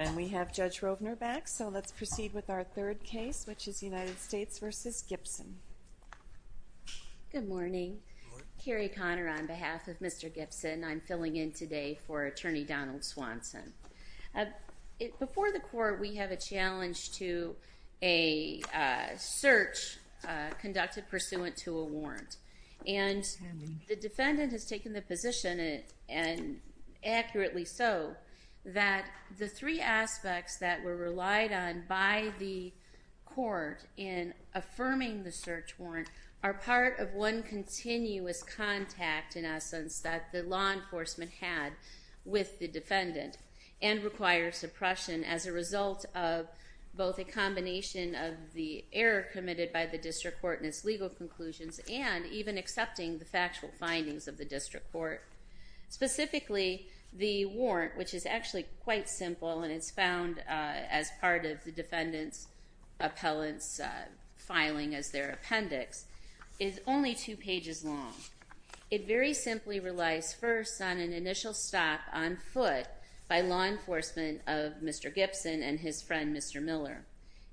And we have Judge Rovner back, so let's proceed with our third case, which is United States v. Gibson. Good morning. Good morning. Carrie Conner, on behalf of Mr. Gibson, I'm filling in today for Attorney Donald Swanson. Before the court, we have a challenge to a search conducted pursuant to a warrant, and the defendant has taken the position, and accurately so, that the three aspects that were relied on by the court in affirming the search warrant are part of one continuous contact, in essence, that the law enforcement had with the defendant, and require suppression as a result of both a combination of the error committed by the district court in its legal conclusions and even accepting the factual findings of the district court. Specifically, the warrant, which is actually quite simple and is found as part of the defendant's appellant's filing as their appendix, is only two pages long. It very simply relies first on an initial stop on foot by law enforcement of Mr. Gibson and his friend, Mr. Miller.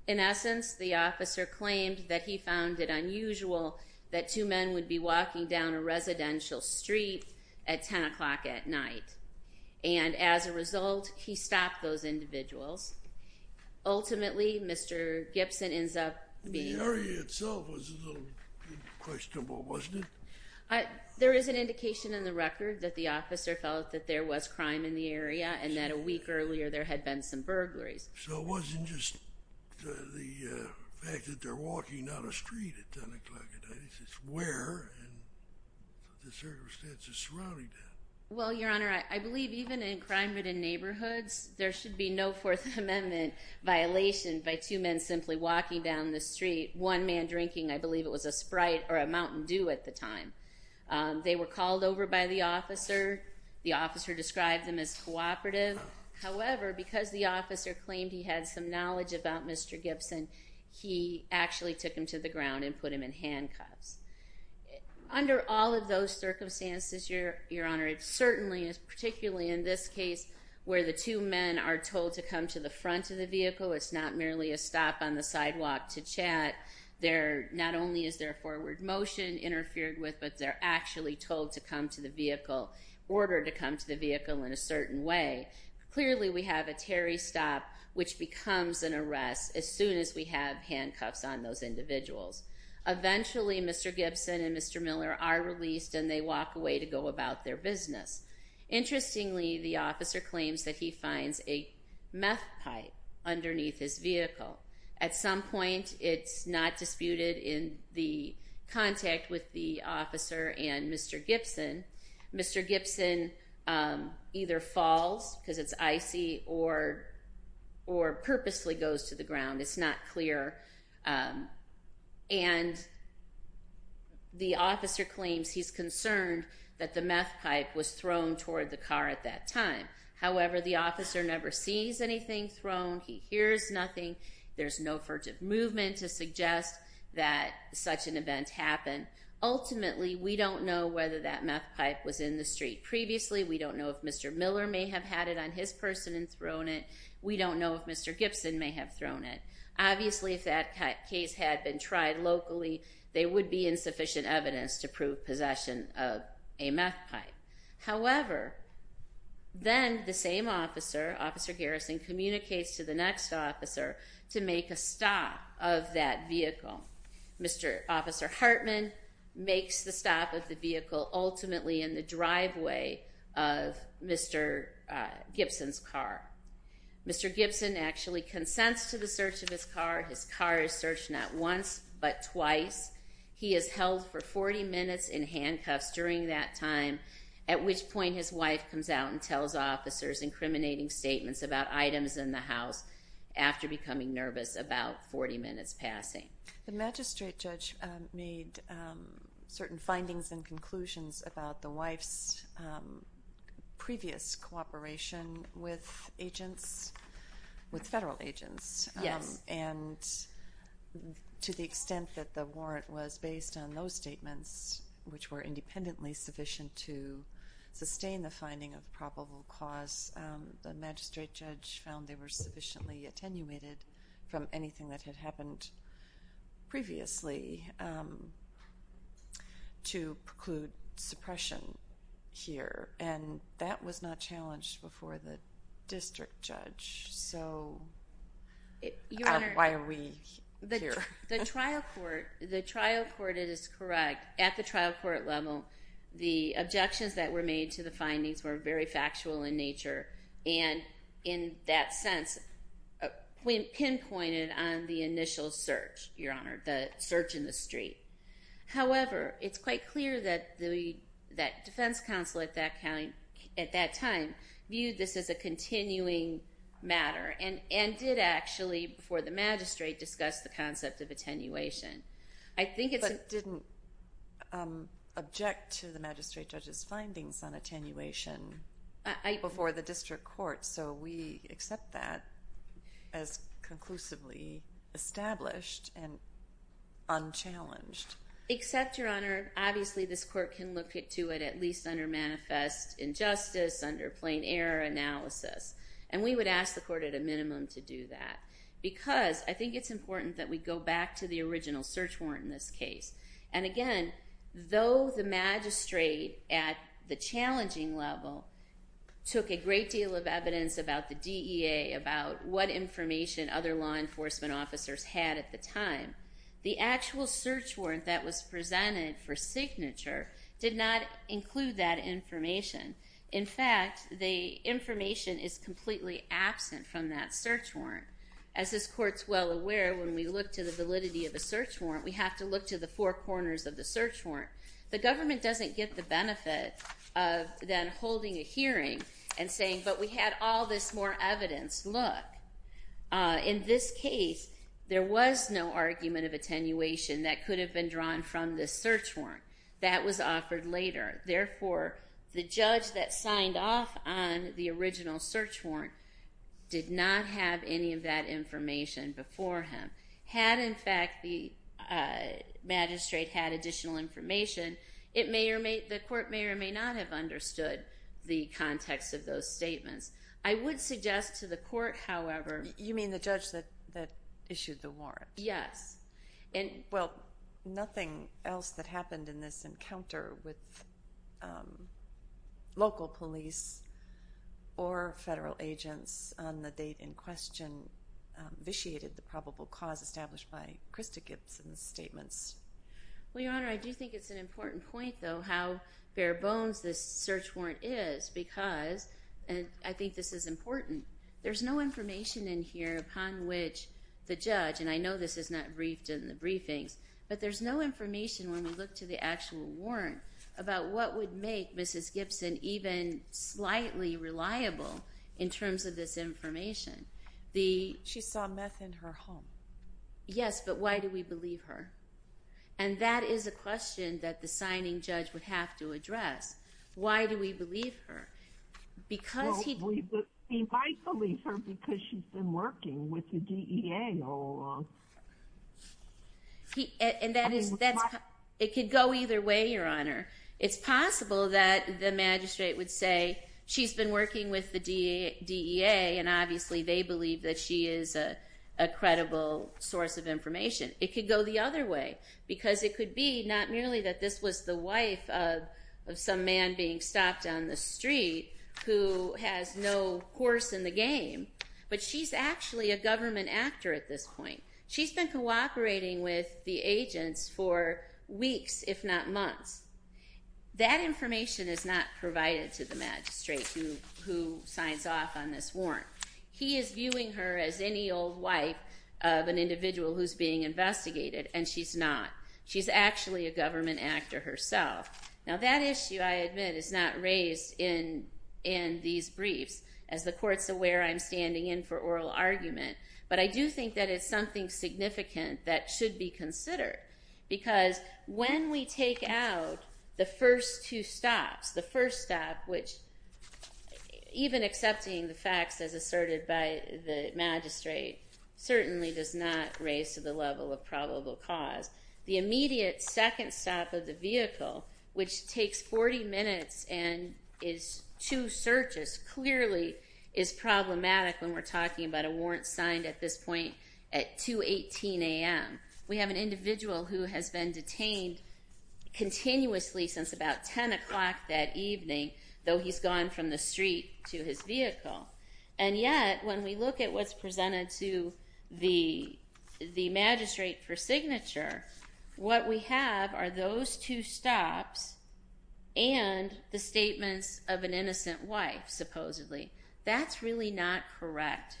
In essence, the officer claimed that he found it unusual that two men would be walking down a residential street at 10 o'clock at night, and as a result, he stopped those individuals. Ultimately, Mr. Gibson ends up being... The area itself was a little questionable, wasn't it? There is an indication in the record that the officer felt that there was crime in the area and that a week earlier there had been some burglaries. So it wasn't just the fact that they're walking down a street at 10 o'clock at night. It's where and the circumstances surrounding that. Well, Your Honor, I believe even in crime-ridden neighborhoods, there should be no Fourth Amendment violation by two men simply walking down the street, one man drinking, I believe it was a Sprite or a Mountain Dew at the time. They were called over by the officer. The officer described them as cooperative. However, because the officer claimed he had some knowledge about Mr. Gibson, he actually took him to the ground and put him in handcuffs. Under all of those circumstances, Your Honor, it certainly is, particularly in this case where the two men are told to come to the front of the vehicle, it's not merely a stop on the sidewalk to chat. Not only is there forward motion interfered with, but they're actually told to come to the vehicle, ordered to come to the vehicle in a certain way. Clearly, we have a Terry stop, which becomes an arrest as soon as we have handcuffs on those individuals. Eventually, Mr. Gibson and Mr. Miller are released and they walk away to go about their business. Interestingly, the officer claims that he finds a meth pipe underneath his vehicle. At some point, it's not disputed in the contact with the officer and Mr. Gibson. Mr. Gibson either falls, because it's icy, or purposely goes to the ground. It's not clear. The officer claims he's concerned that the meth pipe was thrown toward the car at that time. However, the officer never sees anything thrown. He hears nothing. There's no furtive movement to suggest that such an event happened. Ultimately, we don't know whether that meth pipe was in the street previously. We don't know if Mr. Miller may have had it on his person and thrown it. We don't know if Mr. Gibson may have thrown it. Obviously, if that case had been tried locally, there would be insufficient evidence to prove possession of a meth pipe. However, then the same officer, Officer Harrison, communicates to the next officer to make a stop of that vehicle. Mr. Officer Hartman makes the stop of the vehicle ultimately in the driveway of Mr. Gibson's car. Mr. Gibson actually consents to the search of his car. His car is searched not once, but twice. He is held for 40 minutes in handcuffs during that time, at which point his wife comes out and tells officers incriminating statements about items in the house after becoming nervous about 40 minutes passing. The magistrate judge made certain findings and conclusions about the wife's previous cooperation with agents, with federal agents, and to the extent that the warrant was based on those statements, which were independently sufficient to sustain the finding of probable cause, the magistrate judge found they were sufficiently attenuated from anything that had happened previously to preclude suppression here. And that was not challenged before the district judge, so why are we here? The trial court, it is correct, at the trial court level, the objections that were made to the findings were very factual in nature, and in that sense, pinpointed on the initial search, Your Honor, the search in the street. However, it's quite clear that the defense counsel at that time viewed this as a continuing matter and did actually, before the magistrate, discuss the concept of attenuation. I think it's... But didn't object to the magistrate judge's findings on attenuation before the district court, so we accept that as conclusively established and unchallenged. Except Your Honor, obviously this court can look to it at least under manifest injustice, under plain error analysis, and we would ask the court at a minimum to do that, because I think it's important that we go back to the original search warrant in this case. And again, though the magistrate at the challenging level took a great deal of evidence about the DEA, about what information other law enforcement officers had at the time, the actual search warrant that was presented for signature did not include that information. In fact, the information is completely absent from that search warrant. As this court's well aware, when we look to the validity of a search warrant, we have to look to the four corners of the search warrant. The government doesn't get the benefit of then holding a hearing and saying, but we had all this more evidence, look. In this case, there was no argument of attenuation that could have been drawn from this search warrant. That was offered later. Therefore, the judge that signed off on the original search warrant did not have any of that information before him. Had, in fact, the magistrate had additional information, the court may or may not have understood the context of those statements. I would suggest to the court, however— You mean the judge that issued the warrant? Yes. Well, nothing else that happened in this encounter with local police or federal agents on the property in question vitiated the probable cause established by Krista Gibson's statements. Well, Your Honor, I do think it's an important point, though, how bare bones this search warrant is because—and I think this is important—there's no information in here upon which the judge—and I know this is not briefed in the briefings—but there's no information when we look to the She saw meth in her home. Yes, but why do we believe her? And that is a question that the signing judge would have to address. Why do we believe her? Because he— Well, he might believe her because she's been working with the DEA all along. And that is—it could go either way, Your Honor. It's possible that the magistrate would say, she's been working with the DEA, and obviously they believe that she is a credible source of information. It could go the other way because it could be not merely that this was the wife of some man being stopped on the street who has no horse in the game, but she's actually a government actor at this point. She's been cooperating with the agents for weeks, if not months. That information is not provided to the magistrate who signs off on this warrant. He is viewing her as any old wife of an individual who's being investigated, and she's not. She's actually a government actor herself. Now that issue, I admit, is not raised in these briefs. As the Court's aware, I'm standing in for oral argument. But I do think that it's something significant that should be considered because when we take out the first two stops, the first stop, which, even accepting the facts as asserted by the magistrate, certainly does not raise to the level of probable cause, the immediate second stop of the vehicle, which takes 40 minutes and is two searches, clearly is problematic when we're talking about a warrant signed at this point at 2.18 a.m. We have an individual who has been detained continuously since about 10 o'clock that evening, though he's gone from the street to his vehicle. And yet, when we look at what's presented to the magistrate for signature, what we have are those two stops and the statements of an innocent wife, supposedly. That's really not correct.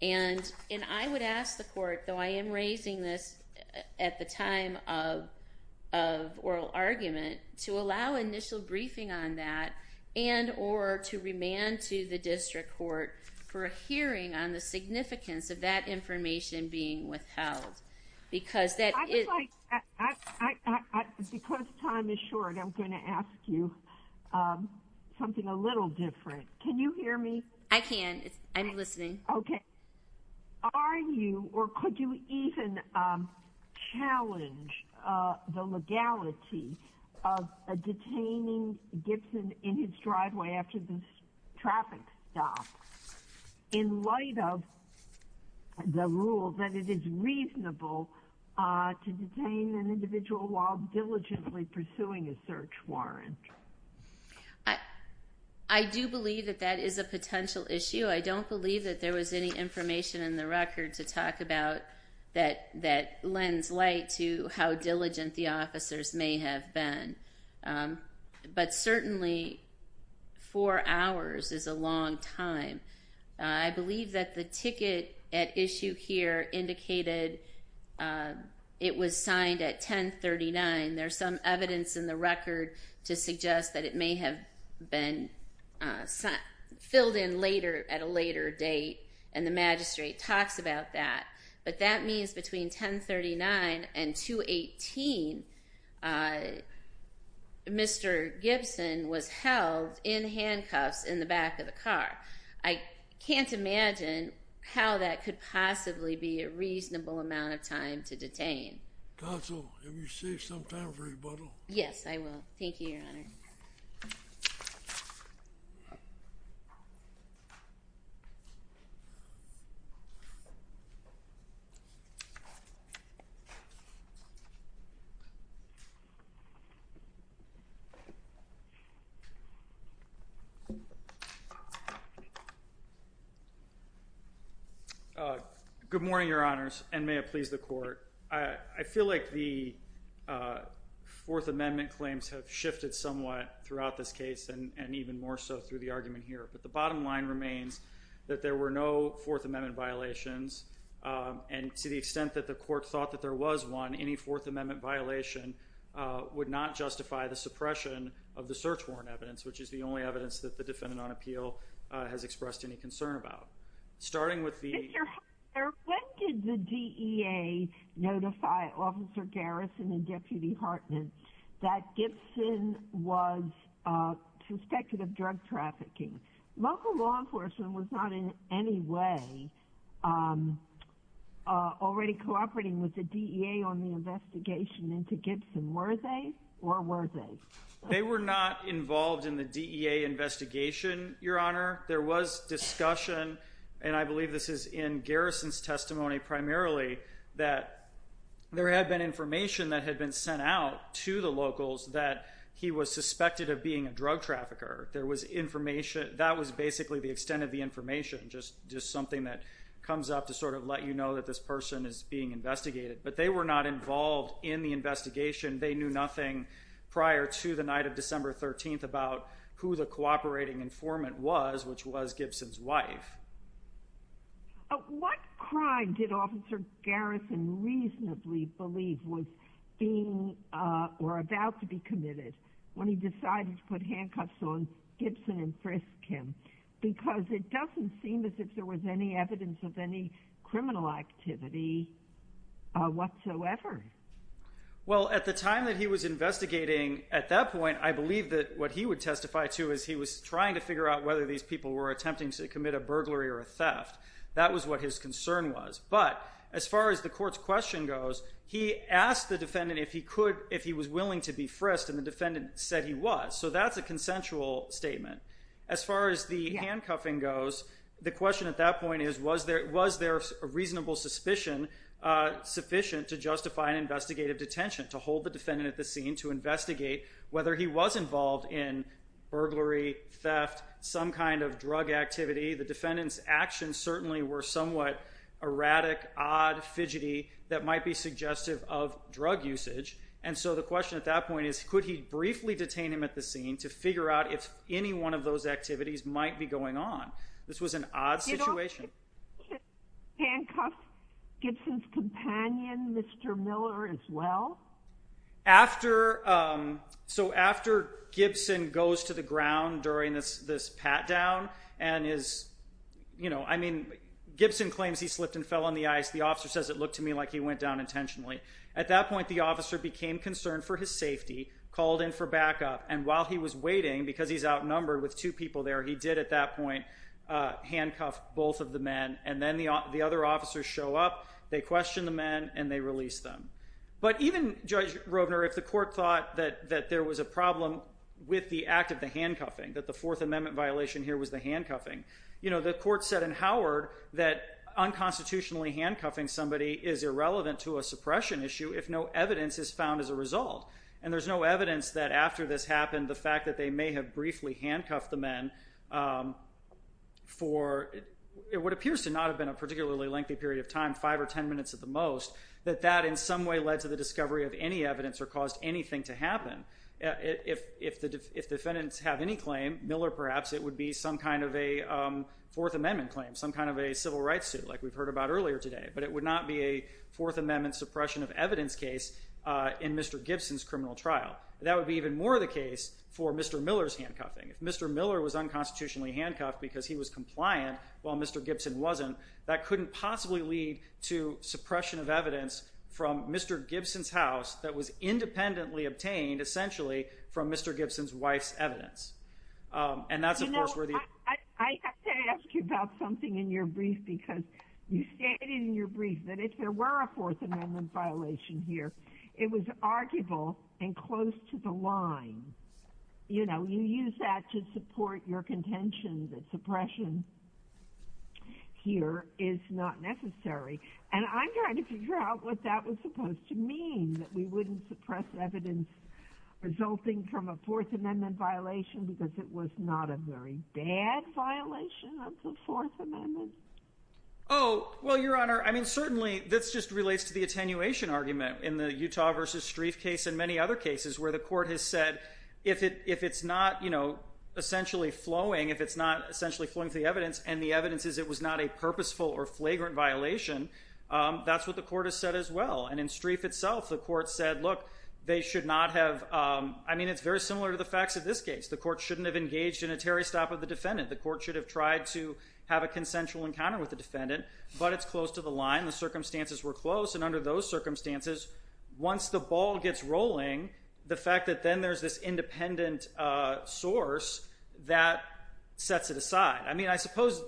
And I would ask the Court, though I am raising this at the time of oral argument, to allow initial briefing on that and or to remand to the District Court for a hearing on the significance of that information being withheld. Because that is... I would like... Because time is short, I'm going to ask you something a little different. Can you hear me? I can. I'm listening. Okay. Are you or could you even challenge the legality of detaining Gibson in his driveway after this traffic stop in light of the rule that it is reasonable to detain an individual while diligently pursuing a search warrant? I do believe that that is a potential issue. I don't believe that there was any information in the record to talk about that lends light to how diligent the officers may have been. But certainly, four hours is a long time. I believe that the ticket at issue here indicated it was signed at 1039. There's some evidence in the record to suggest that it may have been filled in later at a later date, and the magistrate talks about that. But that means between 1039 and 218, Mr. Gibson was held in handcuffs in the back of the car. I can't imagine how that could possibly be a reasonable amount of time to detain. Counsel, have you saved some time for rebuttal? Yes, I will. Thank you, Your Honor. Good morning, Your Honors, and may it please the Court. I feel like the Fourth Amendment claims have shifted somewhat throughout this case and even more so through the argument here. But the bottom line remains that there were no Fourth Amendment violations, and to the extent that the Court thought that there was one, any Fourth Amendment violation would not justify the suppression of the search warrant evidence, which is the only evidence that the defendant on appeal has expressed any concern about. Starting with the— Mr. Hartman, when did the DEA notify Officer Garrison and Deputy Hartman that Gibson was suspected of drug trafficking? Local law enforcement was not in any way already cooperating with the DEA on the investigation into Gibson, were they, or were they? They were not involved in the DEA investigation, Your Honor. There was discussion, and I believe this is in Garrison's testimony primarily, that there had been information that had been sent out to the locals that he was suspected of being a drug trafficker. There was information—that was basically the extent of the information, just something that comes up to sort of let you know that this person is being investigated. But they were not involved in the investigation. They knew nothing prior to the night of December 13th about who the cooperating informant was, which was Gibson's wife. What crime did Officer Garrison reasonably believe was being or about to be committed when he decided to put handcuffs on Gibson and frisk him? Because it doesn't seem as if there was any evidence of any criminal activity whatsoever. Well, at the time that he was investigating, at that point, I believe that what he would testify to is he was trying to figure out whether these people were attempting to commit a burglary or a theft. That was what his concern was. But as far as the Court's question goes, he asked the defendant if he could—if he was and the defendant said he was. So that's a consensual statement. As far as the handcuffing goes, the question at that point is, was there a reasonable suspicion sufficient to justify an investigative detention, to hold the defendant at the scene to investigate whether he was involved in burglary, theft, some kind of drug activity? The defendant's actions certainly were somewhat erratic, odd, fidgety, that might be suggestive of drug usage. And so the question at that point is, could he briefly detain him at the scene to figure out if any one of those activities might be going on? This was an odd situation. Did Officer Gibson handcuff Gibson's companion, Mr. Miller, as well? So after Gibson goes to the ground during this pat-down and is—I mean, Gibson claims he slipped and fell on the ice. The officer says, it looked to me like he went down intentionally. At that point, the officer became concerned for his safety, called in for backup. And while he was waiting, because he's outnumbered with two people there, he did at that point handcuff both of the men. And then the other officers show up, they question the men, and they release them. But even, Judge Rovner, if the court thought that there was a problem with the act of the handcuffing, that the Fourth Amendment violation here was the handcuffing, you know, the court said in Howard that unconstitutionally handcuffing somebody is irrelevant to a suppression issue if no evidence is found as a result. And there's no evidence that after this happened, the fact that they may have briefly handcuffed the men for what appears to not have been a particularly lengthy period of time, five or ten minutes at the most, that that in some way led to the discovery of any evidence or caused anything to happen. If defendants have any claim, Miller perhaps, it would be some kind of a Fourth Amendment claim, some kind of a civil rights suit like we've heard about earlier today. But it would not be a Fourth Amendment suppression of evidence case in Mr. Gibson's criminal trial. That would be even more the case for Mr. Miller's handcuffing. If Mr. Miller was unconstitutionally handcuffed because he was compliant while Mr. Gibson wasn't, that couldn't possibly lead to suppression of evidence from Mr. Gibson's house that was essentially from Mr. Gibson's wife's evidence. And that's of course where the... You know, I have to ask you about something in your brief because you stated in your brief that if there were a Fourth Amendment violation here, it was arguable and close to the line. You know, you use that to support your contention that suppression here is not necessary. And I'm trying to figure out what that was supposed to mean, that we wouldn't suppress evidence resulting from a Fourth Amendment violation because it was not a very bad violation of the Fourth Amendment. Oh, well, Your Honor, I mean certainly this just relates to the attenuation argument in the Utah v. Strieff case and many other cases where the court has said if it's not, you know, essentially flowing, if it's not essentially flowing through the evidence and the evidence is it was not a purposeful or flagrant violation, that's what the court has said as well. And in Strieff itself, the court said, look, they should not have... I mean, it's very similar to the facts of this case. The court shouldn't have engaged in a Terry stop of the defendant. The court should have tried to have a consensual encounter with the defendant, but it's close to the line. The circumstances were close. And under those circumstances, once the ball gets rolling, the fact that then there's this independent source, that sets it aside. I mean, I suppose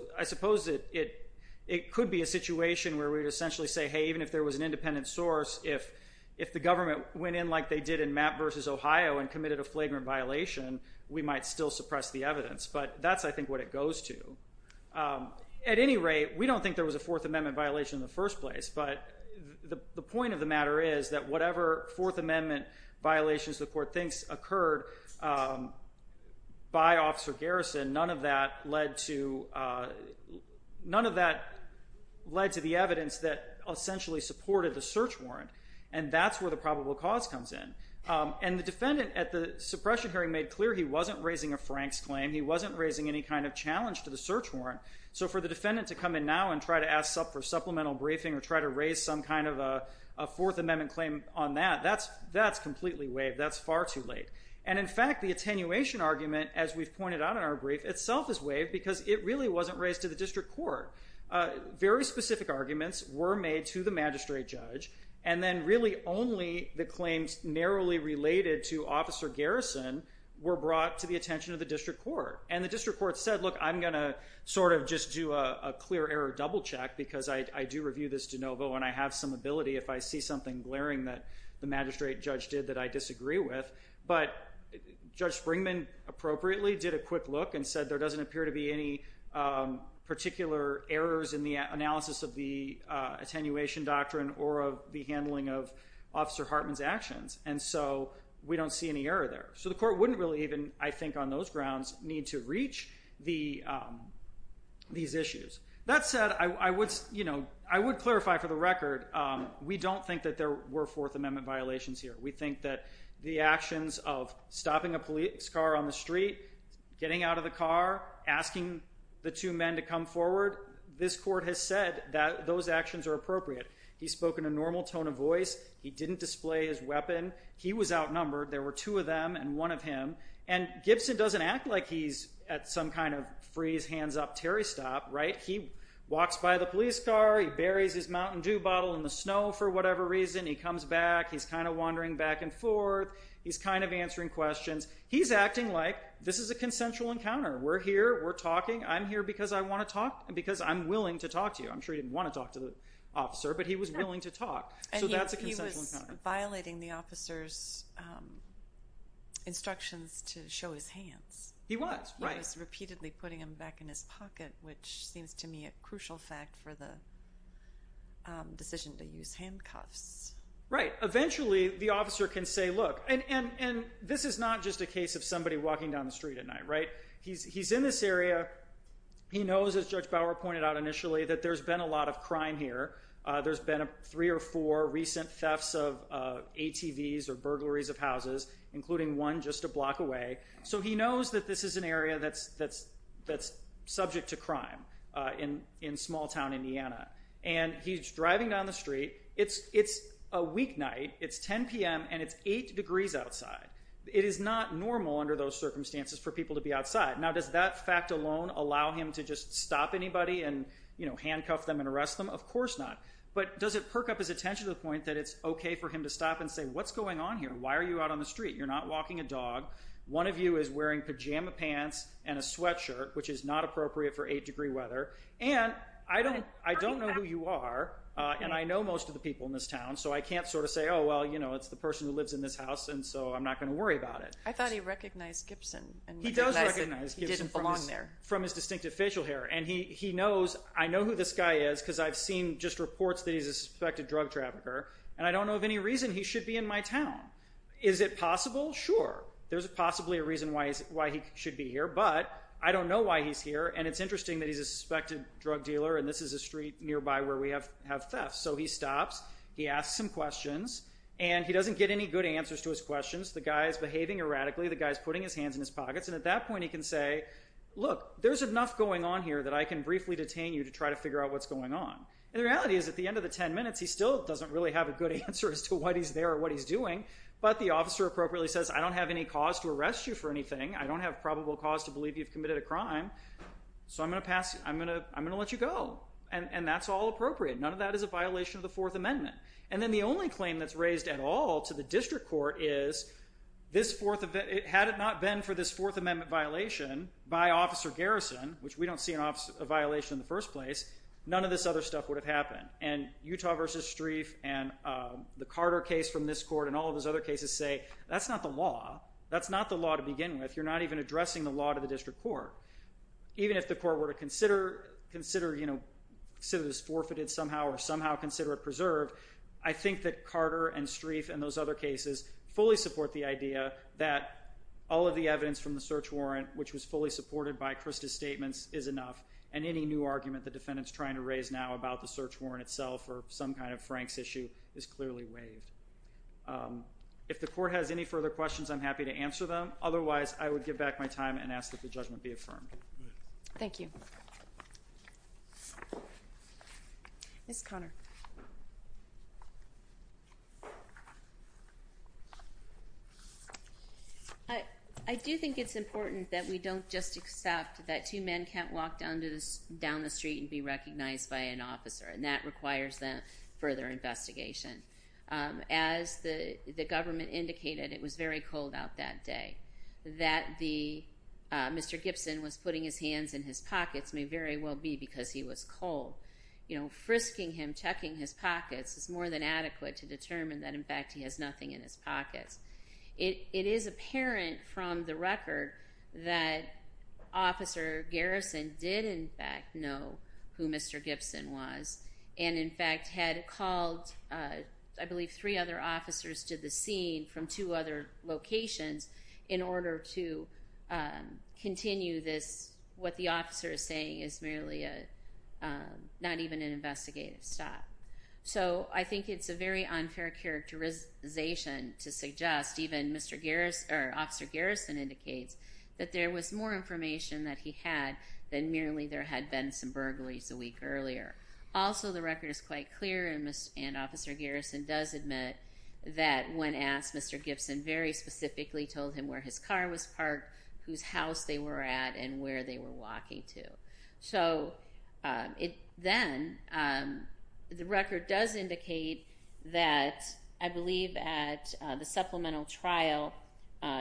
it could be a situation where we would essentially say, hey, even if there was an independent source, if the government went in like they did in Mapp versus Ohio and committed a flagrant violation, we might still suppress the evidence. But that's, I think, what it goes to. At any rate, we don't think there was a Fourth Amendment violation in the first place. But the point of the matter is that whatever Fourth Amendment violations the court thinks occurred by Officer Garrison, none of that led to the evidence that essentially supported the search warrant. And that's where the probable cause comes in. And the defendant at the suppression hearing made clear he wasn't raising a Franks claim. He wasn't raising any kind of challenge to the search warrant. So for the defendant to come in now and try to ask for supplemental briefing or try to raise some kind of a Fourth Amendment claim on that, that's completely waived. That's far too late. And in fact, the attenuation argument, as we've pointed out in our brief, itself is waived because it really wasn't raised to the district court. Very specific arguments were made to the magistrate judge. And then really only the claims narrowly related to Officer Garrison were brought to the attention of the district court. And the district court said, look, I'm going to sort of just do a clear error double check because I do review this de novo and I have some ability if I see something glaring that the magistrate judge did that I disagree with. But Judge Springman, appropriately, did a quick look and said there doesn't appear to be any particular errors in the analysis of the attenuation doctrine or of the handling of Officer Hartman's actions. And so we don't see any error there. So the court wouldn't really even, I think on those grounds, need to reach these issues. That said, I would clarify for the record, we don't think that there were Fourth Amendment violations here. We think that the actions of stopping a police car on the street, getting out of the car, asking the two men to come forward, this court has said that those actions are appropriate. He spoke in a normal tone of voice. He didn't display his weapon. He was outnumbered. There were two of them and one of him. And Gibson doesn't act like he's at some kind of freeze, hands up, Terry stop, right? He walks by the police car. He buries his Mountain Dew bottle in the snow for whatever reason. He comes back. He's kind of wandering back and forth. He's kind of answering questions. He's acting like this is a consensual encounter. We're here. We're talking. I'm here because I want to talk and because I'm willing to talk to you. I'm sure he didn't want to talk to the officer, but he was willing to talk. So that's a consensual encounter. And he was violating the officer's instructions to show his hands. He was, right. He was repeatedly putting them back in his pocket, which seems to me a crucial fact for the decision to use handcuffs. Right. Eventually the officer can say, look, and this is not just a case of somebody walking down the street at night, right? He's in this area. He knows, as Judge Bauer pointed out initially, that there's been a lot of crime here. There's been three or four recent thefts of ATVs or burglaries of houses, including one just a block away. So he knows that this is an area that's subject to crime in small town Indiana. And he's driving down the street. It's a weeknight. It's 10 p.m. and it's eight degrees outside. It is not normal under those circumstances for people to be outside. Now does that fact alone allow him to just stop anybody and, you know, handcuff them and arrest them? Of course not. But does it perk up his attention to the point that it's okay for him to stop and say, what's going on here? Why are you out on the street? You're not walking a dog. One of you is wearing pajama pants and a sweatshirt, which is not appropriate for eight-degree weather. And I don't know who you are, and I know most of the people in this town, so I can't sort of say, oh, well, you know, it's the person who lives in this house, and so I'm not going to worry about it. I thought he recognized Gibson. He does recognize Gibson from his distinctive facial hair. And he knows, I know who this guy is because I've seen just reports that he's a suspected drug trafficker. And I don't know of any reason he should be in my town. Is it possible? Sure. There's possibly a reason why he should be here, but I don't know why he's here. And it's interesting that he's a suspected drug dealer, and this is a street nearby where we have thefts. So he stops, he asks some questions, and he doesn't get any good answers to his questions. The guy's behaving erratically. The guy's putting his hands in his pockets, and at that point, he can say, look, there's enough going on here that I can briefly detain you to try to figure out what's going on. And the reality is, at the end of the 10 minutes, he still doesn't really have a good answer as to what he's there or what he's doing. But the officer appropriately says, I don't have any cause to arrest you for anything. I don't have probable cause to believe you've committed a crime. So I'm going to let you go. And that's all appropriate. None of that is a violation of the Fourth Amendment. And then the only claim that's raised at all to the district court is, had it not been for this Fourth Amendment violation by Officer Garrison, which we don't see a violation in the first place, none of this other stuff would have happened. And Utah v. Streiff and the Carter case from this court and all of his other cases say, that's not the law. That's not the law to begin with. You're not even addressing the law to the district court. Even if the court were to consider this forfeited somehow or somehow consider it preserved, I think that Carter and Streiff and those other cases fully support the idea that all of the evidence from the search warrant, which was fully supported by Krista's statements, is enough. And any new argument the defendant's trying to raise now about the search warrant itself or some kind of Frank's issue is clearly waived. If the court has any further questions, I'm happy to answer them. Otherwise, I would give back my time and ask that the judgment be affirmed. Thank you. Ms. Conner. I do think it's important that we don't just accept that two men can't walk down the street and be recognized by an officer, and that requires further investigation. As the government indicated, it was very cold out that day. That Mr. Gibson was putting his hands in his pockets may very well be because he was cold. Frisking him, checking his pockets is more than adequate to determine that, in fact, he has nothing in his pockets. It is apparent from the record that Officer Garrison did, in fact, know who Mr. Gibson was and, in fact, had called, I believe, three other officers to the scene from two other not even an investigative stop. So I think it's a very unfair characterization to suggest even Officer Garrison indicates that there was more information that he had than merely there had been some burglaries a week earlier. Also, the record is quite clear and Officer Garrison does admit that when asked, Mr. Gibson very specifically told him where his car was parked, whose house they were at, and where they were walking to. So then the record does indicate that, I believe, at the supplemental trial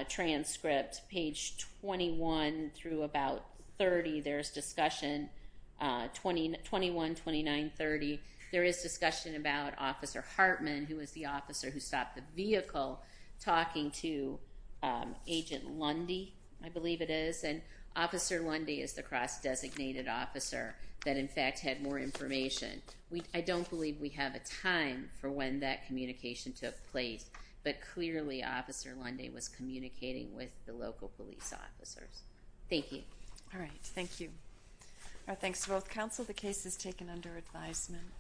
transcript, page 21 through about 30, there's discussion, 21, 29, 30, there is discussion about Officer Hartman, who was the officer who stopped the vehicle, talking to Agent Lundy, I believe it is, and Officer Lundy is the cross-designated officer that, in fact, had more information. I don't believe we have a time for when that communication took place, but clearly Officer Lundy was communicating with the local police officers. Thank you. All right. Thank you. Our thanks to both counsel. The case is taken under advisement.